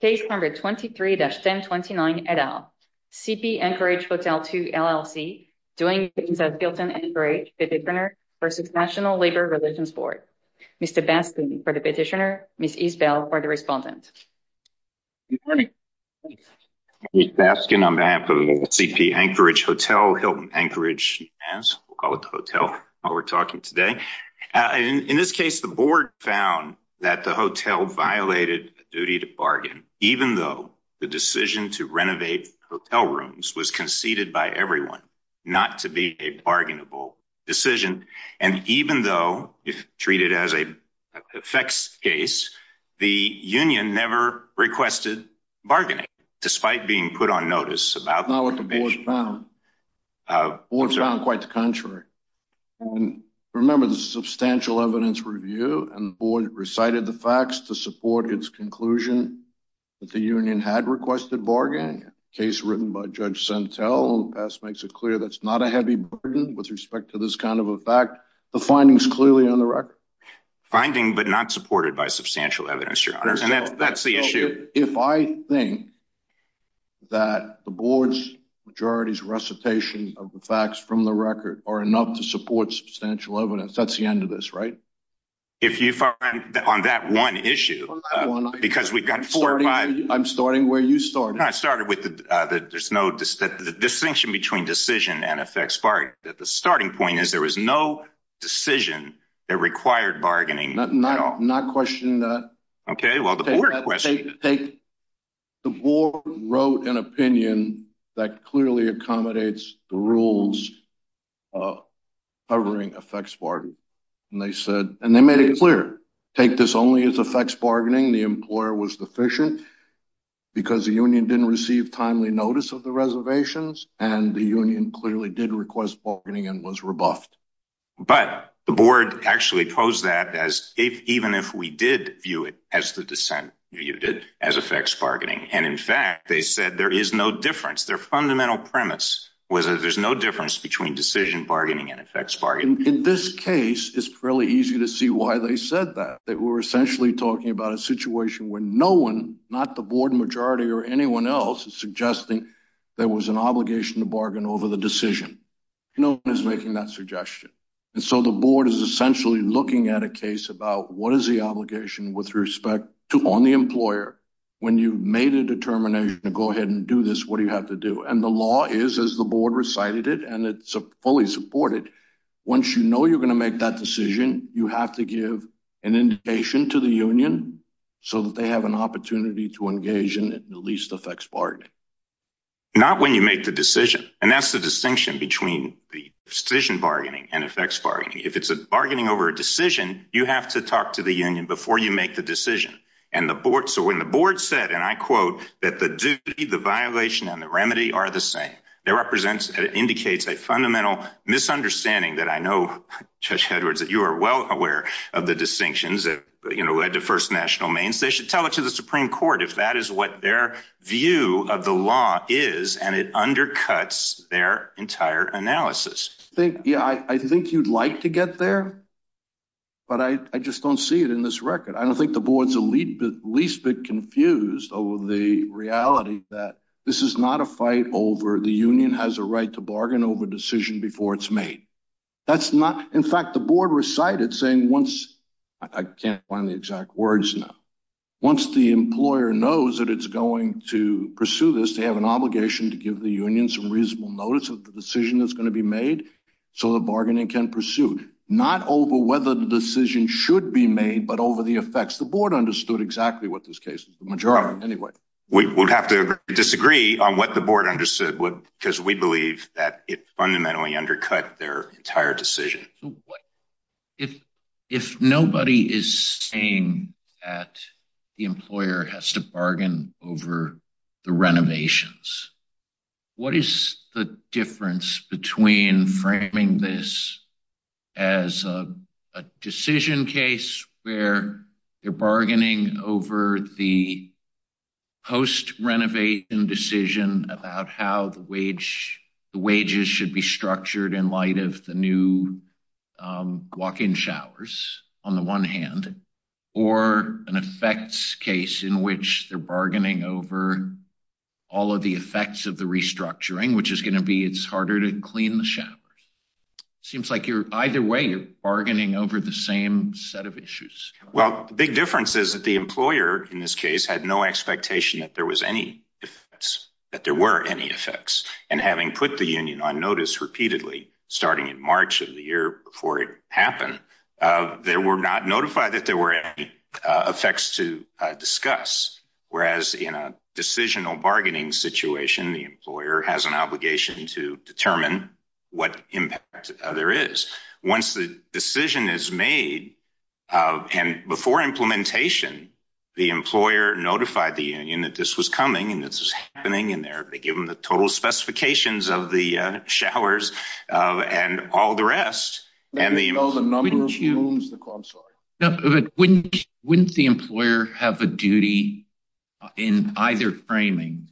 Case number 23-1029 et al. CP Anchorage Hotel 2, LLC, doing business as Hilton Anchorage Petitioner v. National Labor Relations Board. Mr. Baskin for the petitioner, Ms. Isbell for the respondent. Good morning. I'm Mr. Baskin on behalf of CP Anchorage Hotel, Hilton Anchorage as we'll call it the hotel while we're talking today. In this case the board found that the even though the decision to renovate hotel rooms was conceded by everyone not to be a bargainable decision and even though if treated as a effects case the union never requested bargaining despite being put on notice about the board's found quite the contrary. Remember the substantial evidence review and the board recited the facts to support its conclusion that the union had requested bargaining. Case written by Judge Sentel in the past makes it clear that's not a heavy burden with respect to this kind of a fact. The findings clearly on the record. Finding but not supported by substantial evidence, your honor, and that's the issue. If I think that the board's majority's recitation of the facts from the record are enough to support substantial evidence that's the end of this right? If you find on that one issue because we've got four or five. I'm starting where you started. I started with the uh there's no distinction between decision and effects part that the starting point is there was no decision that required bargaining. Not questioning that. Okay well the board wrote an opinion that clearly accommodates the rules uh covering effects bargain and they said and they made it clear take this only as effects bargaining the employer was deficient because the union didn't receive timely notice of the reservations and the union clearly did request bargaining and was rebuffed. But the board actually posed that as if even if we did view it as the dissent viewed it as effects bargaining and in fact they said there is no difference their fundamental premise was that there's no difference between decision bargaining and effects bargaining. In this case it's fairly easy to see why they said that they were essentially talking about a situation where no one not the board majority or anyone else is suggesting there was an obligation to bargain over the decision. No one is making that suggestion and so the board is essentially looking at a case about what is the obligation with respect to on the employer when you've made a determination to go ahead and do this what do you have to do and the law is as the board recited it and it's fully supported once you know you're going to make that decision you have to give an indication to the union so that they have an opportunity to engage in at least effects bargaining. Not when you make the decision and that's the distinction between the decision bargaining and effects bargaining. If it's a bargaining over a decision you have to talk to the union before you make the decision and the board so when the board said and I quote that the duty the violation and the remedy are the same that represents indicates a fundamental misunderstanding that I know Judge Hedwards that you are well aware of the distinctions that you know led to first national means they should tell it to the supreme court if that is what their view of the law is and it undercuts their entire analysis. I think yeah I think you'd like to get there but I just don't see it in this record. I don't think the board's elite least bit confused over the reality that this is not a fight over the union has a right to bargain over decision before it's made. That's not in fact the board recited saying once I can't find the exact words now once the employer knows that it's going to pursue this they have an obligation to give the union some reasonable notice of the decision that's going to be made so the bargaining can pursue not over whether the decision should be made but over the effects the board understood exactly what this case is the majority anyway. We would have to disagree on what the board understood because we believe that it fundamentally undercut their entire decision. If nobody is saying that the employer has to bargain over the renovations what is the difference between framing this as a decision case where they're bargaining over the post-renovation decision about how the wage the wages should be structured in light of the new walk-in showers on the one hand or an effects case in which they're bargaining over all of the effects of the restructuring which is going to be it's harder to clean the showers seems like you're either way you're bargaining over the same set of issues. Well the big difference is that the employer in this case had no expectation that there was any if that there were any effects and having put the union on notice repeatedly starting in March of the year before it happened they were not notified that there were any effects to discuss whereas in a decisional bargaining situation the employer has an obligation to determine what impact there is once the decision is made and before implementation the employer notified the union that this was coming and this is happening in there they give them the total specifications of the showers and all the rest and the you know the number of rooms the I'm sorry no but wouldn't wouldn't the employer have a duty in either framing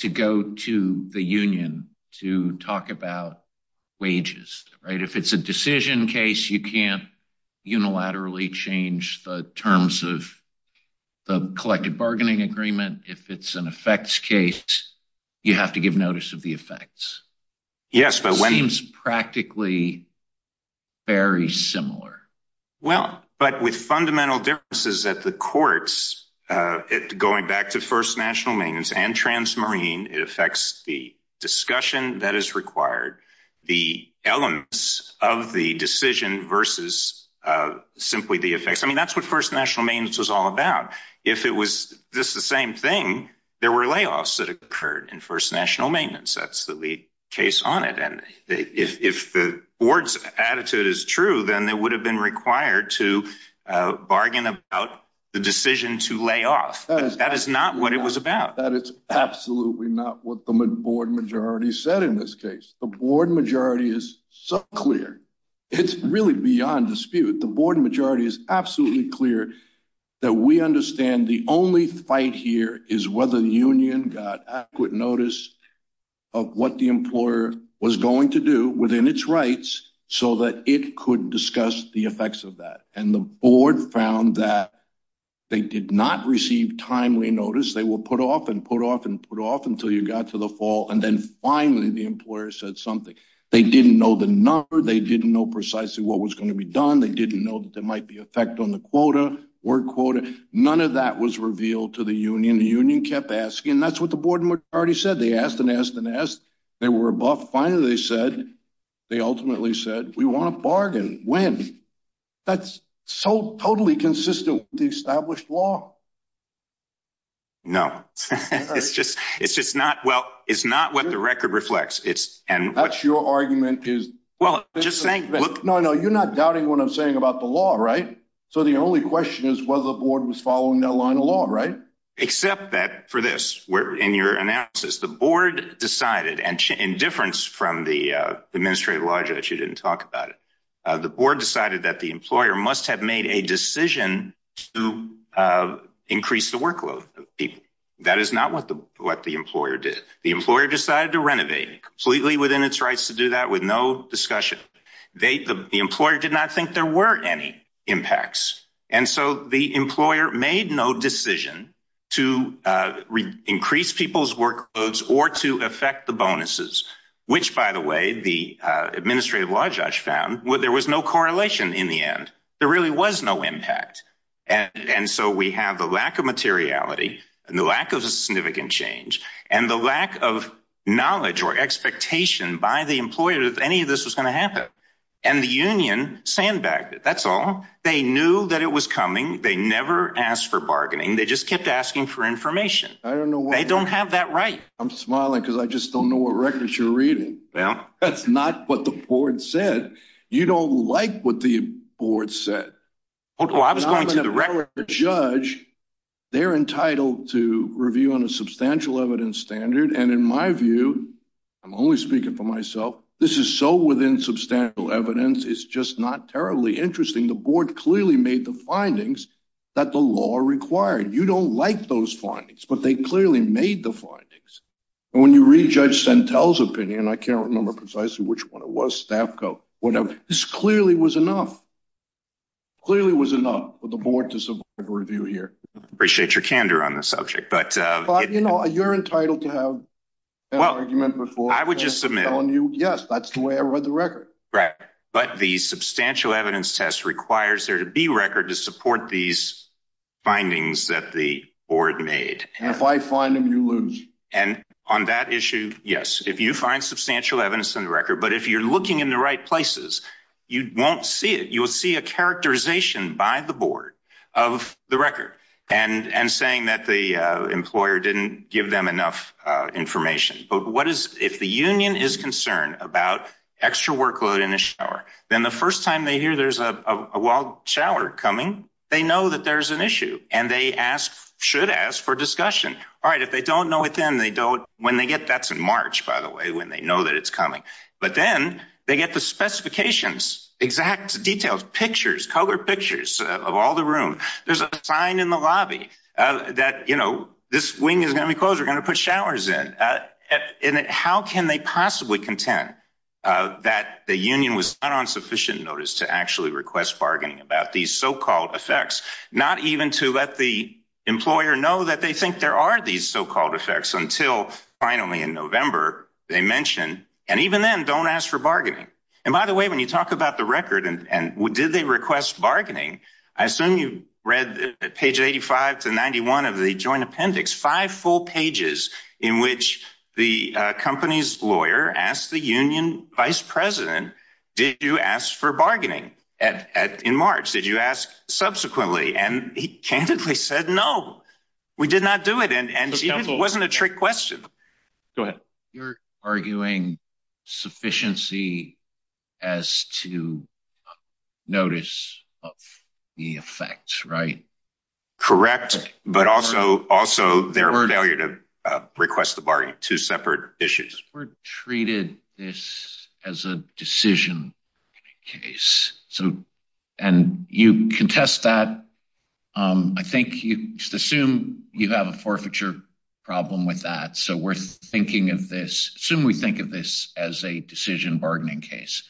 to go to the union to talk about wages right if it's a decision case you can't unilaterally change the terms of the collected bargaining agreement if it's an effects case you have to give notice of the effects yes but when it's practically very similar well but with fundamental differences at the courts uh it going back to first national maintenance and transmarine it affects the discussion that is required the elements of the decision versus uh simply the effects I mean that's what first national maintenance was all about if it was just the same thing there were layoffs that occurred in first national maintenance that's the lead case on it and if the board's attitude is true then they would have been required to uh bargain about the decision to lay off that is not what it was about that it's absolutely not what the board majority said in this case the board majority is so clear it's really beyond dispute the board majority is absolutely clear that we understand the only fight here is whether the union got adequate notice of what the employer was going to do within its rights so that it could discuss the effects of that and the board found that they did not receive timely notice they will put off and put off and put off until you got to the fall and then finally the employer said something they didn't know the number they didn't know precisely what was going to be done they didn't know that there might be effect on the quota word quota none of that was revealed to the union the union kept asking that's what the board majority said they asked and asked and asked they were above finally they said they ultimately said we want to bargain when that's so totally consistent with the established law no it's just it's just not well it's not what the record reflects it's and that's your argument is well just saying no no you're not doubting what i'm saying about the law right so the only question is whether the board was following that line of law right except that for this where in your announces the board decided and in difference from the uh administrative law judge you didn't talk about it uh the board decided that the employer must have made a decision to uh increase the workload of people that is not what the what the employer did the employer decided to renovate completely within its rights to do that with no discussion they the employer did not think there were any impacts and so the employer made no decision to uh increase people's workloads or to affect the bonuses which by the way the uh administrative law judge found well there was no correlation in the end there really was no impact and and so we have the lack of materiality and the lack of significant change and the lack of knowledge or expectation by the employer if any of this was going to happen and the union sandbagged it that's all they knew that it was coming they never asked for bargaining they just kept asking for information i don't know they don't have that right i'm smiling because i just don't know what records you're reading well that's not what the board said you don't like what the board said well i was going to the judge they're entitled to review on a substantial evidence standard and in my view i'm only speaking for myself this is so within substantial evidence it's just not terribly interesting the board clearly made the findings that the law required you don't like those findings but they clearly made the findings and when you read judge centel's opinion i can't remember precisely which one it was this clearly was enough clearly was enough for the board to survive review here appreciate your candor on the subject but uh you know you're entitled to have an argument before i would just submit on you yes that's the way i read the record right but the substantial evidence test requires there to be record to support these findings that the board made and if i find them you lose and on that issue yes if you find substantial evidence in the record but if you're looking in the right places you won't see it you will see a characterization by the board of the record and and saying that the employer didn't give them enough uh information but what is if the union is concerned about extra workload in a shower then the first time they hear there's a wild shower coming they know that there's an issue and they ask should ask for discussion all right if they don't know it then they don't when they get that's in march by the way when they know that it's coming but then they get the specifications exact details pictures color pictures of all the room there's a sign in the lobby uh that you know this wing is going to be closed we're going to put showers in uh and how can they possibly contend uh that the union was not on sufficient notice to actually request bargaining about these so-called effects not even to let the employer know that they think there are these so-called effects until finally in november they mention and even then don't ask for bargaining and by the way when you talk about the record and and did they request bargaining i assume you read page 85 to 91 of the joint appendix five full pages in which the company's lawyer asked the union vice president did you ask for bargaining at at in march did you ask subsequently and he candidly said no we did not do it and and it wasn't a trick question go ahead you're arguing sufficiency as to notice of the effect right correct but also also their failure to request the bargain two separate issues were treated this as a decision case so and you contest that um i think you just assume you have a forfeiture problem with that so we're thinking of this assume we think of this as a decision bargaining case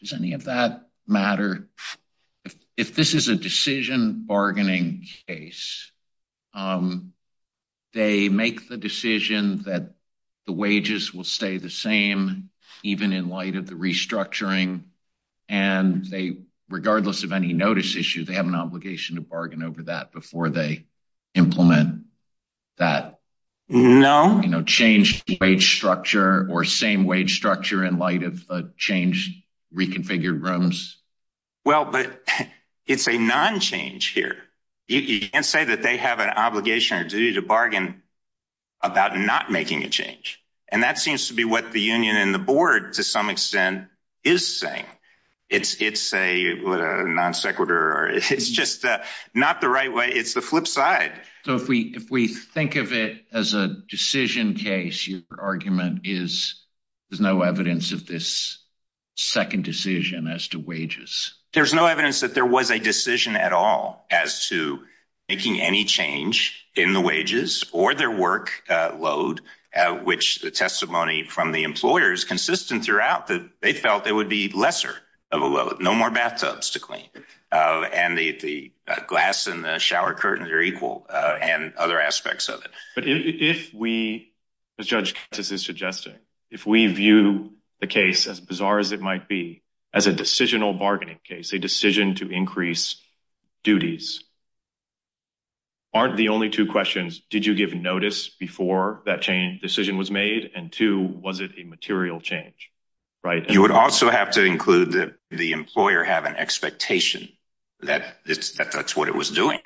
does any of that matter if this is a decision bargaining case um they make the decision that the wages will stay the same even in light of the restructuring and they regardless of any notice issue they have an obligation to bargain over that before they implement that no you know change the wage structure or same wage structure in light of the change reconfigured rooms well but it's a non-change here you can't say that they have an obligation or duty to bargain about not making a change and that seems to be what the union and the board to some extent is saying it's it's a what a non-sequitur or it's just uh not the right way it's the flip side so if we if we think of it as a decision case your argument is there's no evidence of this second decision as to wages there's no evidence that there was a decision at all as to making any change in the wages or their work uh load which the testimony from the employers consistent throughout that they felt it would be lesser of a load no more bathtubs to clean uh and the the glass and the shower curtains are equal uh and other aspects of it but if we as judge this is suggesting if we view the case as bizarre as it might be as a decisional bargaining case a decision to increase duties aren't the only two questions did you give notice before that decision was made and two was it a material change right you would also have to include that the employer have an expectation that it's that's what it was doing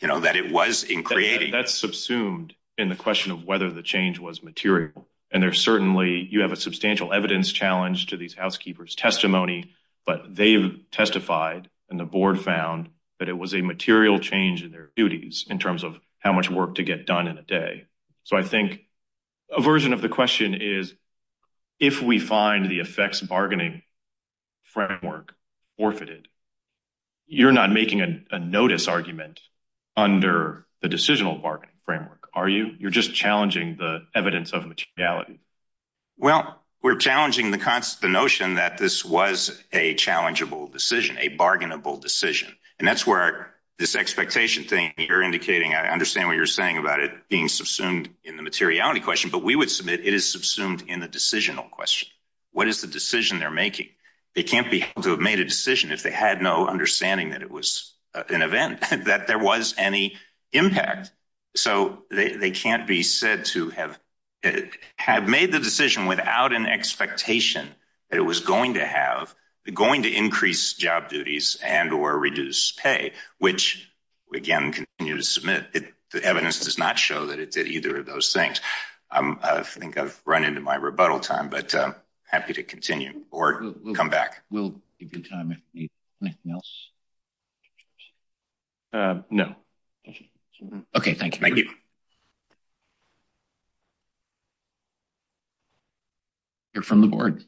you know that it was in creating that's subsumed in the question of whether the change was material and there certainly you have a substantial evidence challenge to these housekeepers testimony but they've testified and the board found that it was a material change in their duties in terms of how much work to get done in a day so i think a version of the question is if we find the effects bargaining framework forfeited you're not making a notice argument under the decisional bargaining framework are you you're just challenging the evidence of materiality well we're challenging the concept the notion that this was a challengeable decision a bargainable decision and that's where this being subsumed in the materiality question but we would submit it is subsumed in the decisional question what is the decision they're making they can't be able to have made a decision if they had no understanding that it was an event that there was any impact so they can't be said to have have made the decision without an expectation that it was going to have going to increase job duties and or reduce pay which again continue to submit it the evidence does not show that it did either of those things i'm i think i've run into my rebuttal time but i'm happy to continue or come back we'll give you time if you need anything else uh no okay thank you thank you you're from the board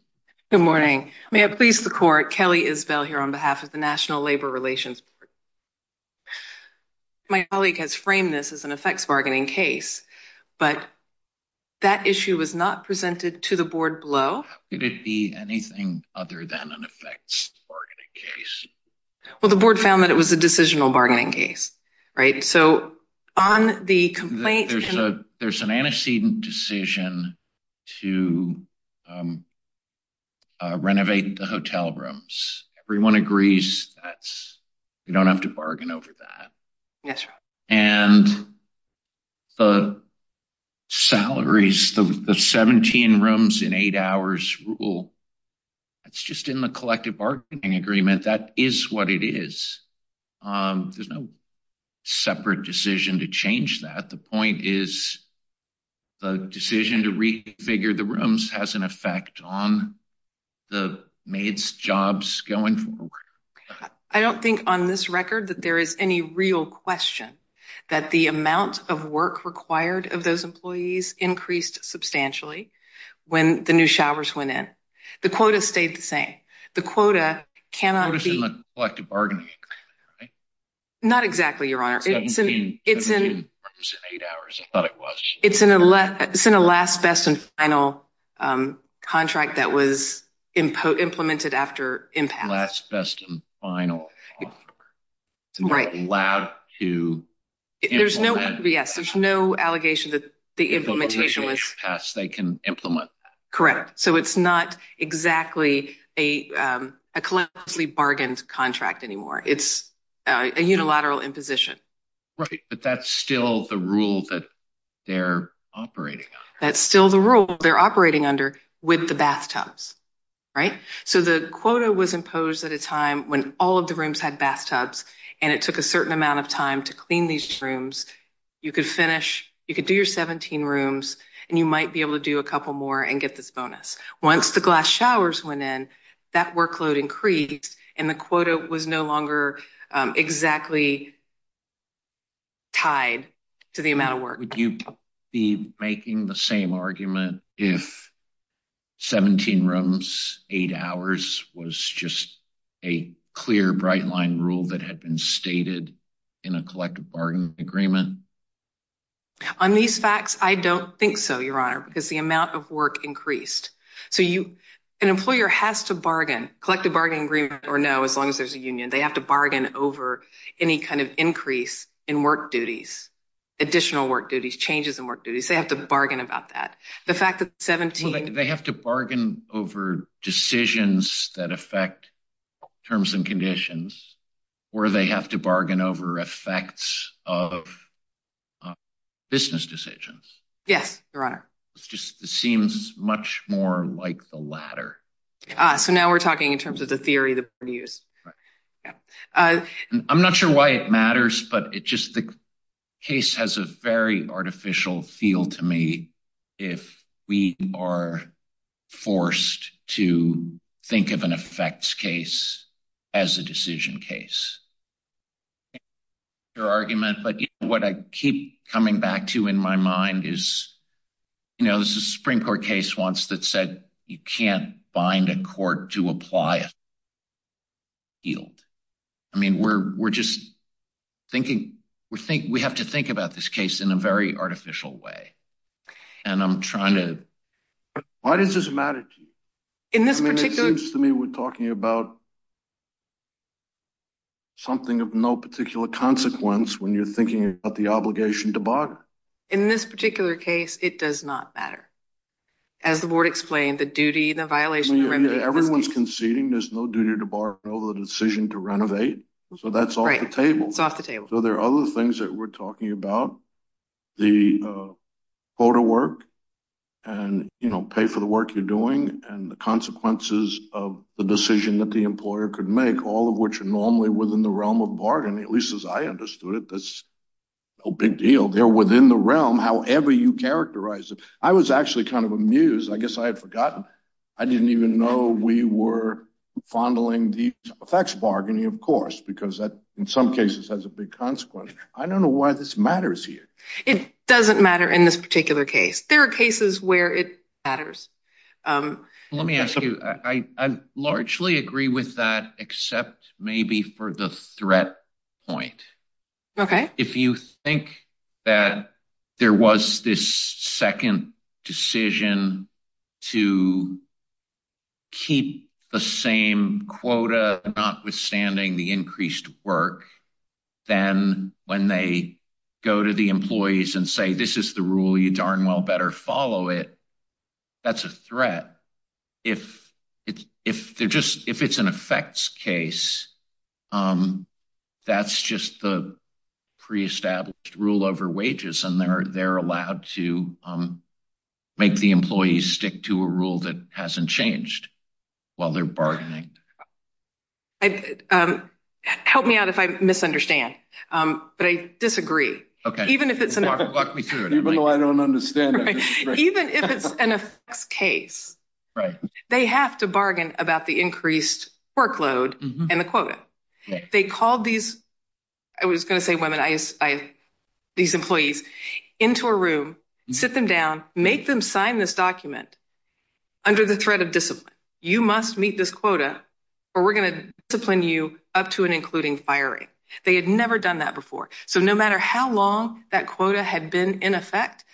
good morning may i please the court kelly is bell here on behalf of the national labor relations my colleague has framed this as an effects bargaining case but that issue was not presented to the board below it would be anything other than an effects bargaining case well the board found that it was a decisional bargaining case right so on the complaint there's an antecedent decision to renovate the hotel rooms everyone agrees that's you don't have to bargain over that yes and the salaries the 17 rooms in eight hours rule that's just in the collective bargaining agreement that is what it is um there's no separate decision to change that the point is the decision to re-figure the rooms has an effect on the maids jobs going forward i don't think on this record that there is any real question that the amount of work required of those employees increased substantially when the new showers went in the quota stayed the same the quota cannot be not exactly your honor it's in it's in eight hours i thought it was it's in a left it's in a last best and final um contract that was implemented after impact last best and final it's not allowed to there's no yes there's no allegation that the implementation is passed they can implement correct so it's not exactly a um a closely bargained contract anymore it's a unilateral imposition right but that's still the rule that they're operating on that's still the rule they're operating under with the bathtubs right so the quota was imposed at a time when all of the rooms had bathtubs and it took a certain amount of time to clean these rooms you could finish you could do your 17 rooms and you might be able to do a couple more and get this bonus once the glass showers went in that workload increased and the quota was no longer exactly tied to the amount of work would you be making the same argument if 17 rooms eight hours was just a clear bright line rule that had been stated in a collective bargain agreement on these facts i don't think so your honor because the amount of work increased so you an employer has to bargain collective bargaining agreement or no as long as there's a union they have to bargain over any kind of increase in work duties additional work duties changes in work duties they have to bargain over decisions that affect terms and conditions or they have to bargain over effects of business decisions yes your honor it's just it seems much more like the latter uh so now we're talking in terms of the theory that we use right yeah uh i'm not sure why it matters but it just the very artificial feel to me if we are forced to think of an effects case as a decision case your argument but you know what i keep coming back to in my mind is you know this is a supreme court case once that said you can't bind a court to apply a yield i mean we're we're just thinking we think we have to think about this case in a very artificial way and i'm trying to why does this matter to you in this particular to me we're talking about something of no particular consequence when you're thinking about the obligation to bargain in this particular case it does not matter as the board explained the duty the violation everyone's conceding there's no duty to borrow the decision to renovate so that's off the table it's off the table so there are other things that we're talking about the photo work and you know pay for the work you're doing and the consequences of the decision that the employer could make all of which are normally within the realm of bargaining at least as i understood it that's no big deal they're within the realm however you characterize it i was actually kind of amused i guess i had forgotten i didn't even know we were fondling the effects bargaining of course because that in some cases has a big consequence i don't know why this matters here it doesn't matter in this particular case there are cases where it matters um let me ask you i i largely agree with that except maybe for the threat point okay if you think that there was this second decision to keep the same quota notwithstanding the increased work then when they go to the employees and say this is the rule you darn well better follow it that's a threat if it's if they're just if it's an effects case um that's just the pre-established rule over wages and they're they're allowed to um make the employees stick to a rule that hasn't changed while they're bargaining i um help me out if i misunderstand um but i disagree okay even if it's even though i don't understand even if it's an effects case right they have to bargain about the increased workload and the quota they called these i was going to say women i i these employees into a room sit them down make them sign this document under the threat of discipline you must meet this quota or we're going to discipline you up to and including firing they had never done that before so no matter how long that quota had been in effect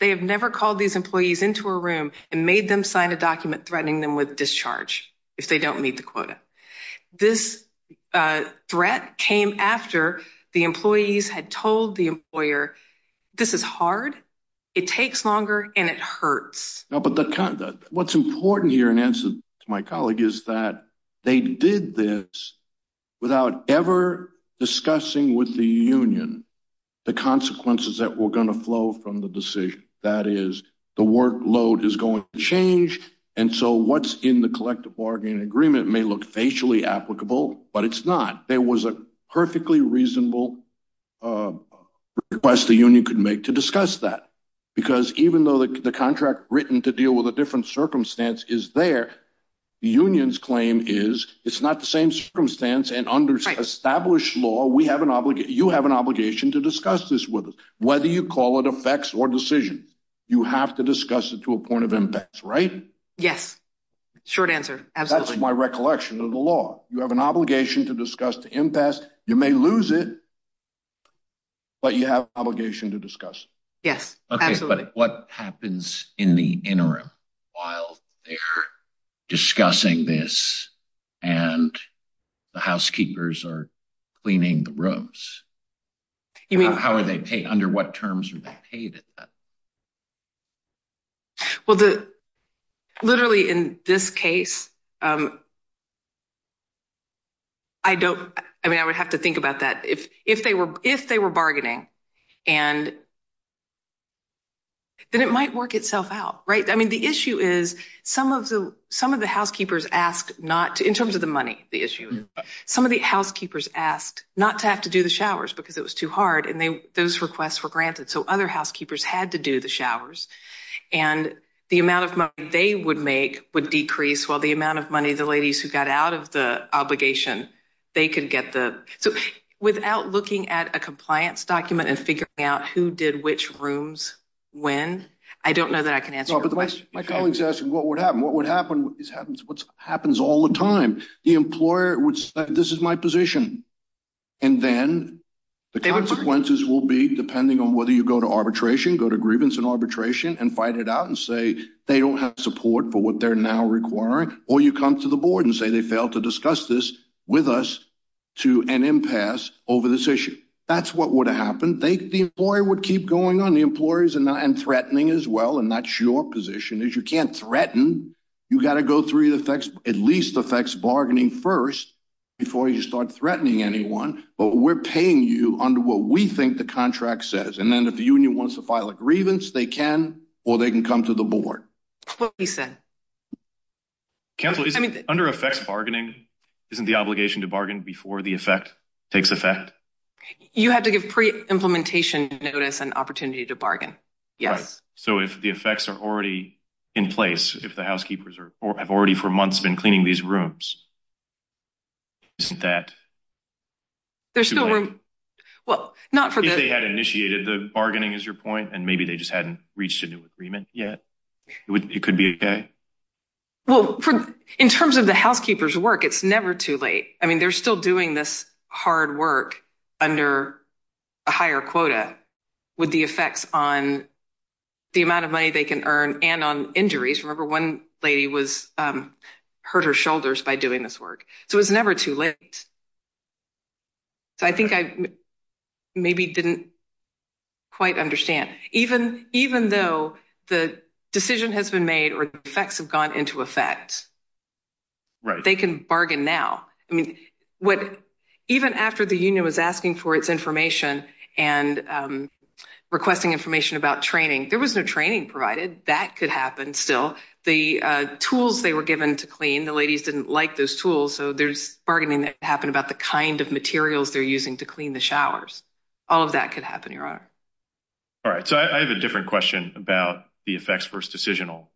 they have never called these employees into a room and made them sign a document threatening them with discharge if they don't meet the quota this uh threat came after the employees had told the employer this is hard it takes longer and it hurts no but the conduct what's important here in answer to my colleague is that they did this without ever discussing with the union the consequences that were going to flow from the decision that is the workload is going to change and so what's in the collective bargaining agreement may look facially applicable but it's not there was a perfectly reasonable uh request the union could make to discuss that because even though the contract written to deal with a different circumstance is there the union's claim is it's not the same circumstance and under established law we have an obligation you have an obligation to discuss this with us whether you call it effects or decisions you have to discuss it to a point of impacts right yes short answer that's my recollection of the law you have an obligation to discuss the impasse you may lose it but you have obligation to discuss yes okay but what happens in the interim while they're discussing this and the housekeepers are cleaning the rooms you mean how are they paid under what terms are they paid at that well the literally in this case um i don't i mean i would have to think about that if if they were if they were bargaining and then it might work itself out right i mean the issue is some of the some of the housekeepers asked not in terms of the money the issue some of the housekeepers asked not to have to do the showers because it was too hard and they those requests were granted so other housekeepers had to do the showers and the amount of money they would make would decrease while the amount of money the ladies who got out of the obligation they could get the so without looking at a which rooms when i don't know that i can answer my colleagues asking what would happen what would happen is happens what happens all the time the employer would say this is my position and then the consequences will be depending on whether you go to arbitration go to grievance and arbitration and fight it out and say they don't have support for what they're now requiring or you come to the board and say they fail to discuss this with us to an impasse over this that's what would have happened they the employer would keep going on the employers and not and threatening as well and that's your position is you can't threaten you got to go through the effects at least affects bargaining first before you start threatening anyone but we're paying you under what we think the contract says and then if the union wants to file a grievance they can or they can come to the board what we said council isn't under effects bargaining isn't obligation to bargain before the effect takes effect you have to give pre-implementation notice an opportunity to bargain yes so if the effects are already in place if the housekeepers are have already for months been cleaning these rooms isn't that there's still room well not for this they had initiated the bargaining is your point and maybe they just hadn't reached a new agreement yet it would it could be okay well for in terms of the housekeepers work it's never too late i mean they're still doing this hard work under a higher quota with the effects on the amount of money they can earn and on injuries remember one lady was um hurt her shoulders by doing this work so it's never too late so i think i maybe didn't quite understand even even though the decision has been made or the effects have gone into effect right they can bargain now i mean what even after the union was asking for its information and um requesting information about training there was no training provided that could happen still the uh tools they were given to clean the ladies didn't like those tools so there's bargaining that happened about the kind of materials they're using to clean the showers all of that could happen your honor all right so i have a different question about the effects first decisional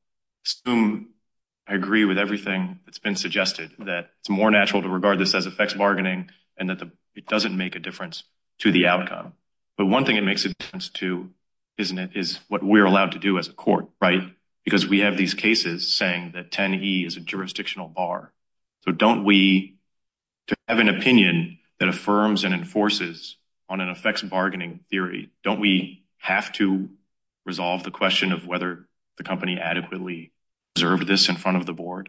i agree with everything that's been suggested that it's more natural to regard this as effects bargaining and that the it doesn't make a difference to the outcome but one thing it makes a difference to isn't it is what we're allowed to do as a court right because we have these cases saying that 10e is a jurisdictional bar so don't we to have an opinion that affirms and enforces on an effects bargaining theory don't we have to resolve the question of whether the company adequately observed this in front of the board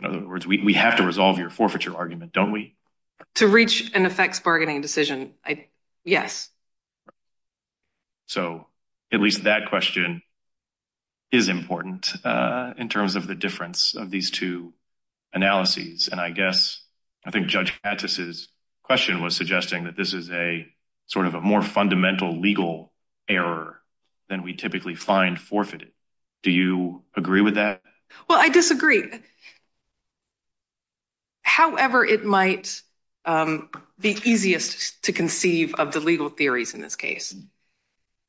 in other words we have to resolve your forfeiture argument don't we to reach an effects bargaining decision i yes so at least that question is important uh in terms of the difference of these two analyses and i guess i think judge mattis's question was suggesting that this is a sort of a more fundamental legal error than we typically find forfeited do you agree with that well i disagree however it might um be easiest to conceive of the legal theories in this case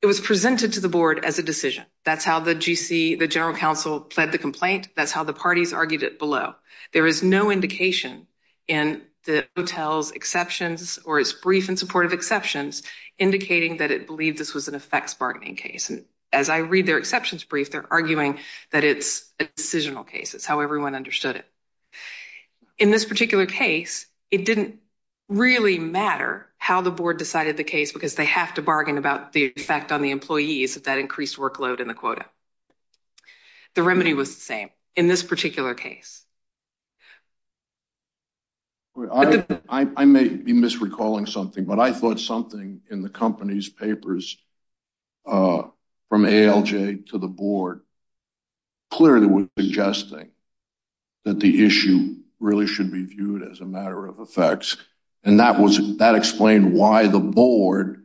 it was presented to the board as a decision that's how the gc the general counsel pled the complaint that's how the parties argued it below there is no indication in the hotel's exceptions or its brief and supportive exceptions indicating that it believed this was an effects bargaining case and as i read their exceptions brief they're arguing that it's a decisional case it's how everyone understood it in this particular case it didn't really matter how the board decided the case because they have to bargain about the effect on the employees that increased workload in the quota the remedy was the particular case i may be misrecalling something but i thought something in the company's papers uh from alj to the board clearly was suggesting that the issue really should be viewed as a matter of effects and that was that explained why the board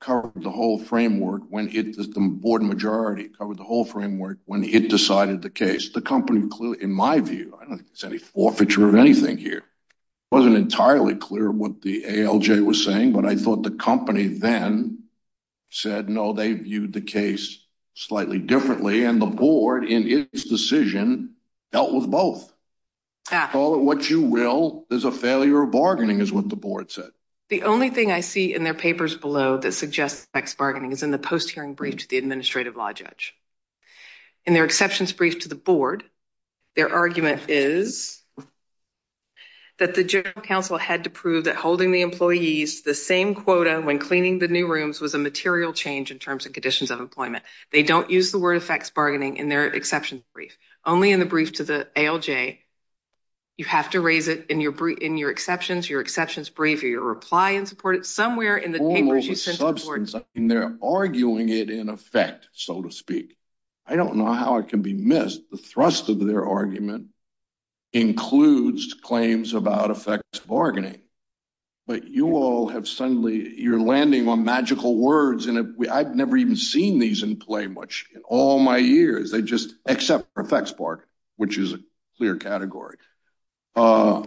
covered the whole framework when it the board majority covered the whole framework when it decided the case the company clearly in my view i don't think there's any forfeiture of anything here wasn't entirely clear what the alj was saying but i thought the company then said no they viewed the case slightly differently and the board in its decision dealt with both call it what you will there's a failure of bargaining is what the board said the only thing i see in their papers below that suggests sex bargaining is in the post hearing brief to the administrative law judge in their exceptions brief to the board their argument is that the general counsel had to prove that holding the employees the same quota when cleaning the new rooms was a material change in terms and conditions of employment they don't use the word effects bargaining in their exceptions brief only in the brief to the alj you have to raise it in your brief in your exceptions your exceptions brief your reply and support it almost a substance and they're arguing it in effect so to speak i don't know how it can be missed the thrust of their argument includes claims about effects bargaining but you all have suddenly you're landing on magical words and i've never even seen these in play much in all my years they just accept perfect spark which is a clear category uh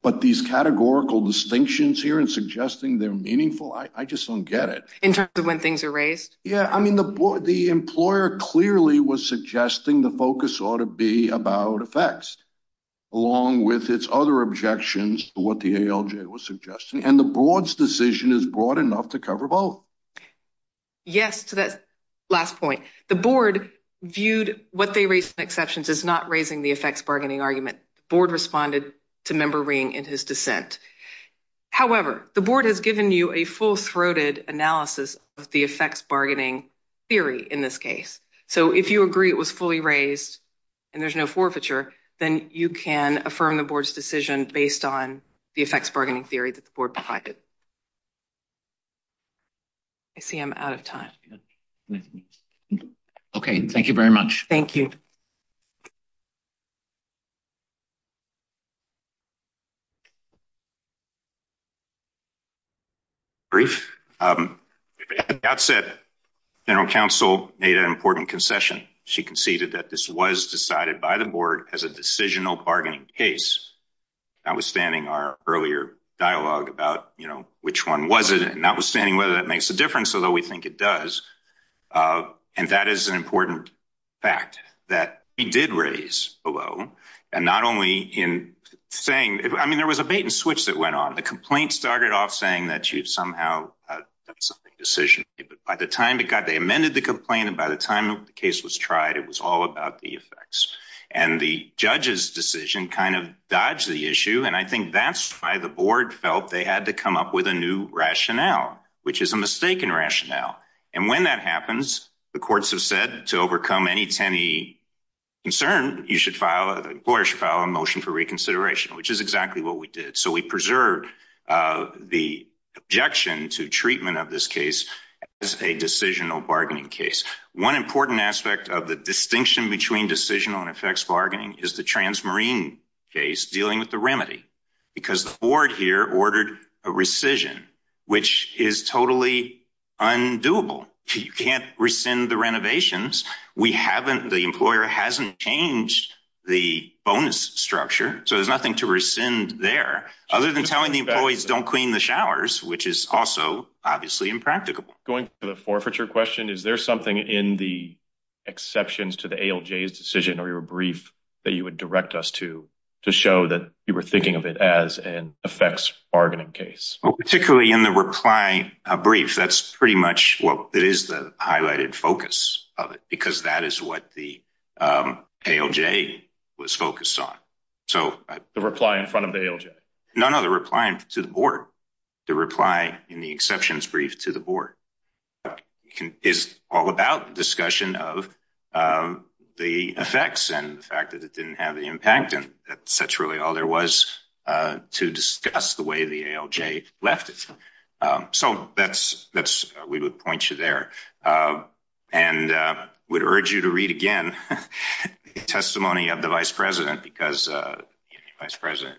but these categorical distinctions here and suggesting they're meaningful i just don't get it in terms of when things are raised yeah i mean the board the employer clearly was suggesting the focus ought to be about effects along with its other objections to what the alj was suggesting and the board's decision is broad enough to cover both yes to that last point the board viewed what they raised in exceptions is not raising the effects bargaining argument board responded to member ring in his dissent however the board has given you a full-throated analysis of the effects bargaining theory in this case so if you agree it was fully raised and there's no forfeiture then you can affirm the board's decision based on the effects bargaining theory that the board provided i see i'm out of time okay thank you very much thank you brief um at the outset general counsel made an important concession she conceded that this was decided by the board as a decisional bargaining case notwithstanding our earlier dialogue about you know which one was it and notwithstanding whether that makes a difference although we think it does uh and that is an important fact that he did raise below and not only in saying i mean there was a bait and switch that went on the complaint started off saying that you've somehow done something decision but by the time it got they amended the complaint and by the time the case was tried it was all about the effects and the judge's decision kind of dodged the issue and i think that's why the board felt they had to come up with a new rationale which is a mistaken rationale and when that happens the courts have said to overcome any tinny concern you should file a motion for reconsideration which is exactly what we did so we preserved uh the objection to treatment of this case as a decisional bargaining case one important aspect of the distinction between decisional and effects bargaining is the transmarine case dealing with the remedy because the board here ordered a rescission which is totally undoable you can't rescind the renovations we haven't the employer hasn't changed the bonus structure so there's nothing to rescind there other than telling the employees don't clean the showers which is also obviously impracticable going to the forfeiture question is there something in the exceptions to the alj's decision or your brief that you would direct us to to show that you were thinking of it as an effects bargaining case particularly in the reply a brief that's pretty much what it is highlighted focus of it because that is what the um alj was focused on so the reply in front of the alj no no the reply to the board the reply in the exceptions brief to the board is all about discussion of um the effects and the fact that it didn't have the impact and that's really all there to discuss the way the alj left it um so that's that's we would point you there and uh would urge you to read again the testimony of the vice president because uh vice president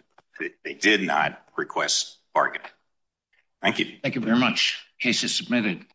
they did not request bargain thank you thank you very much cases submitted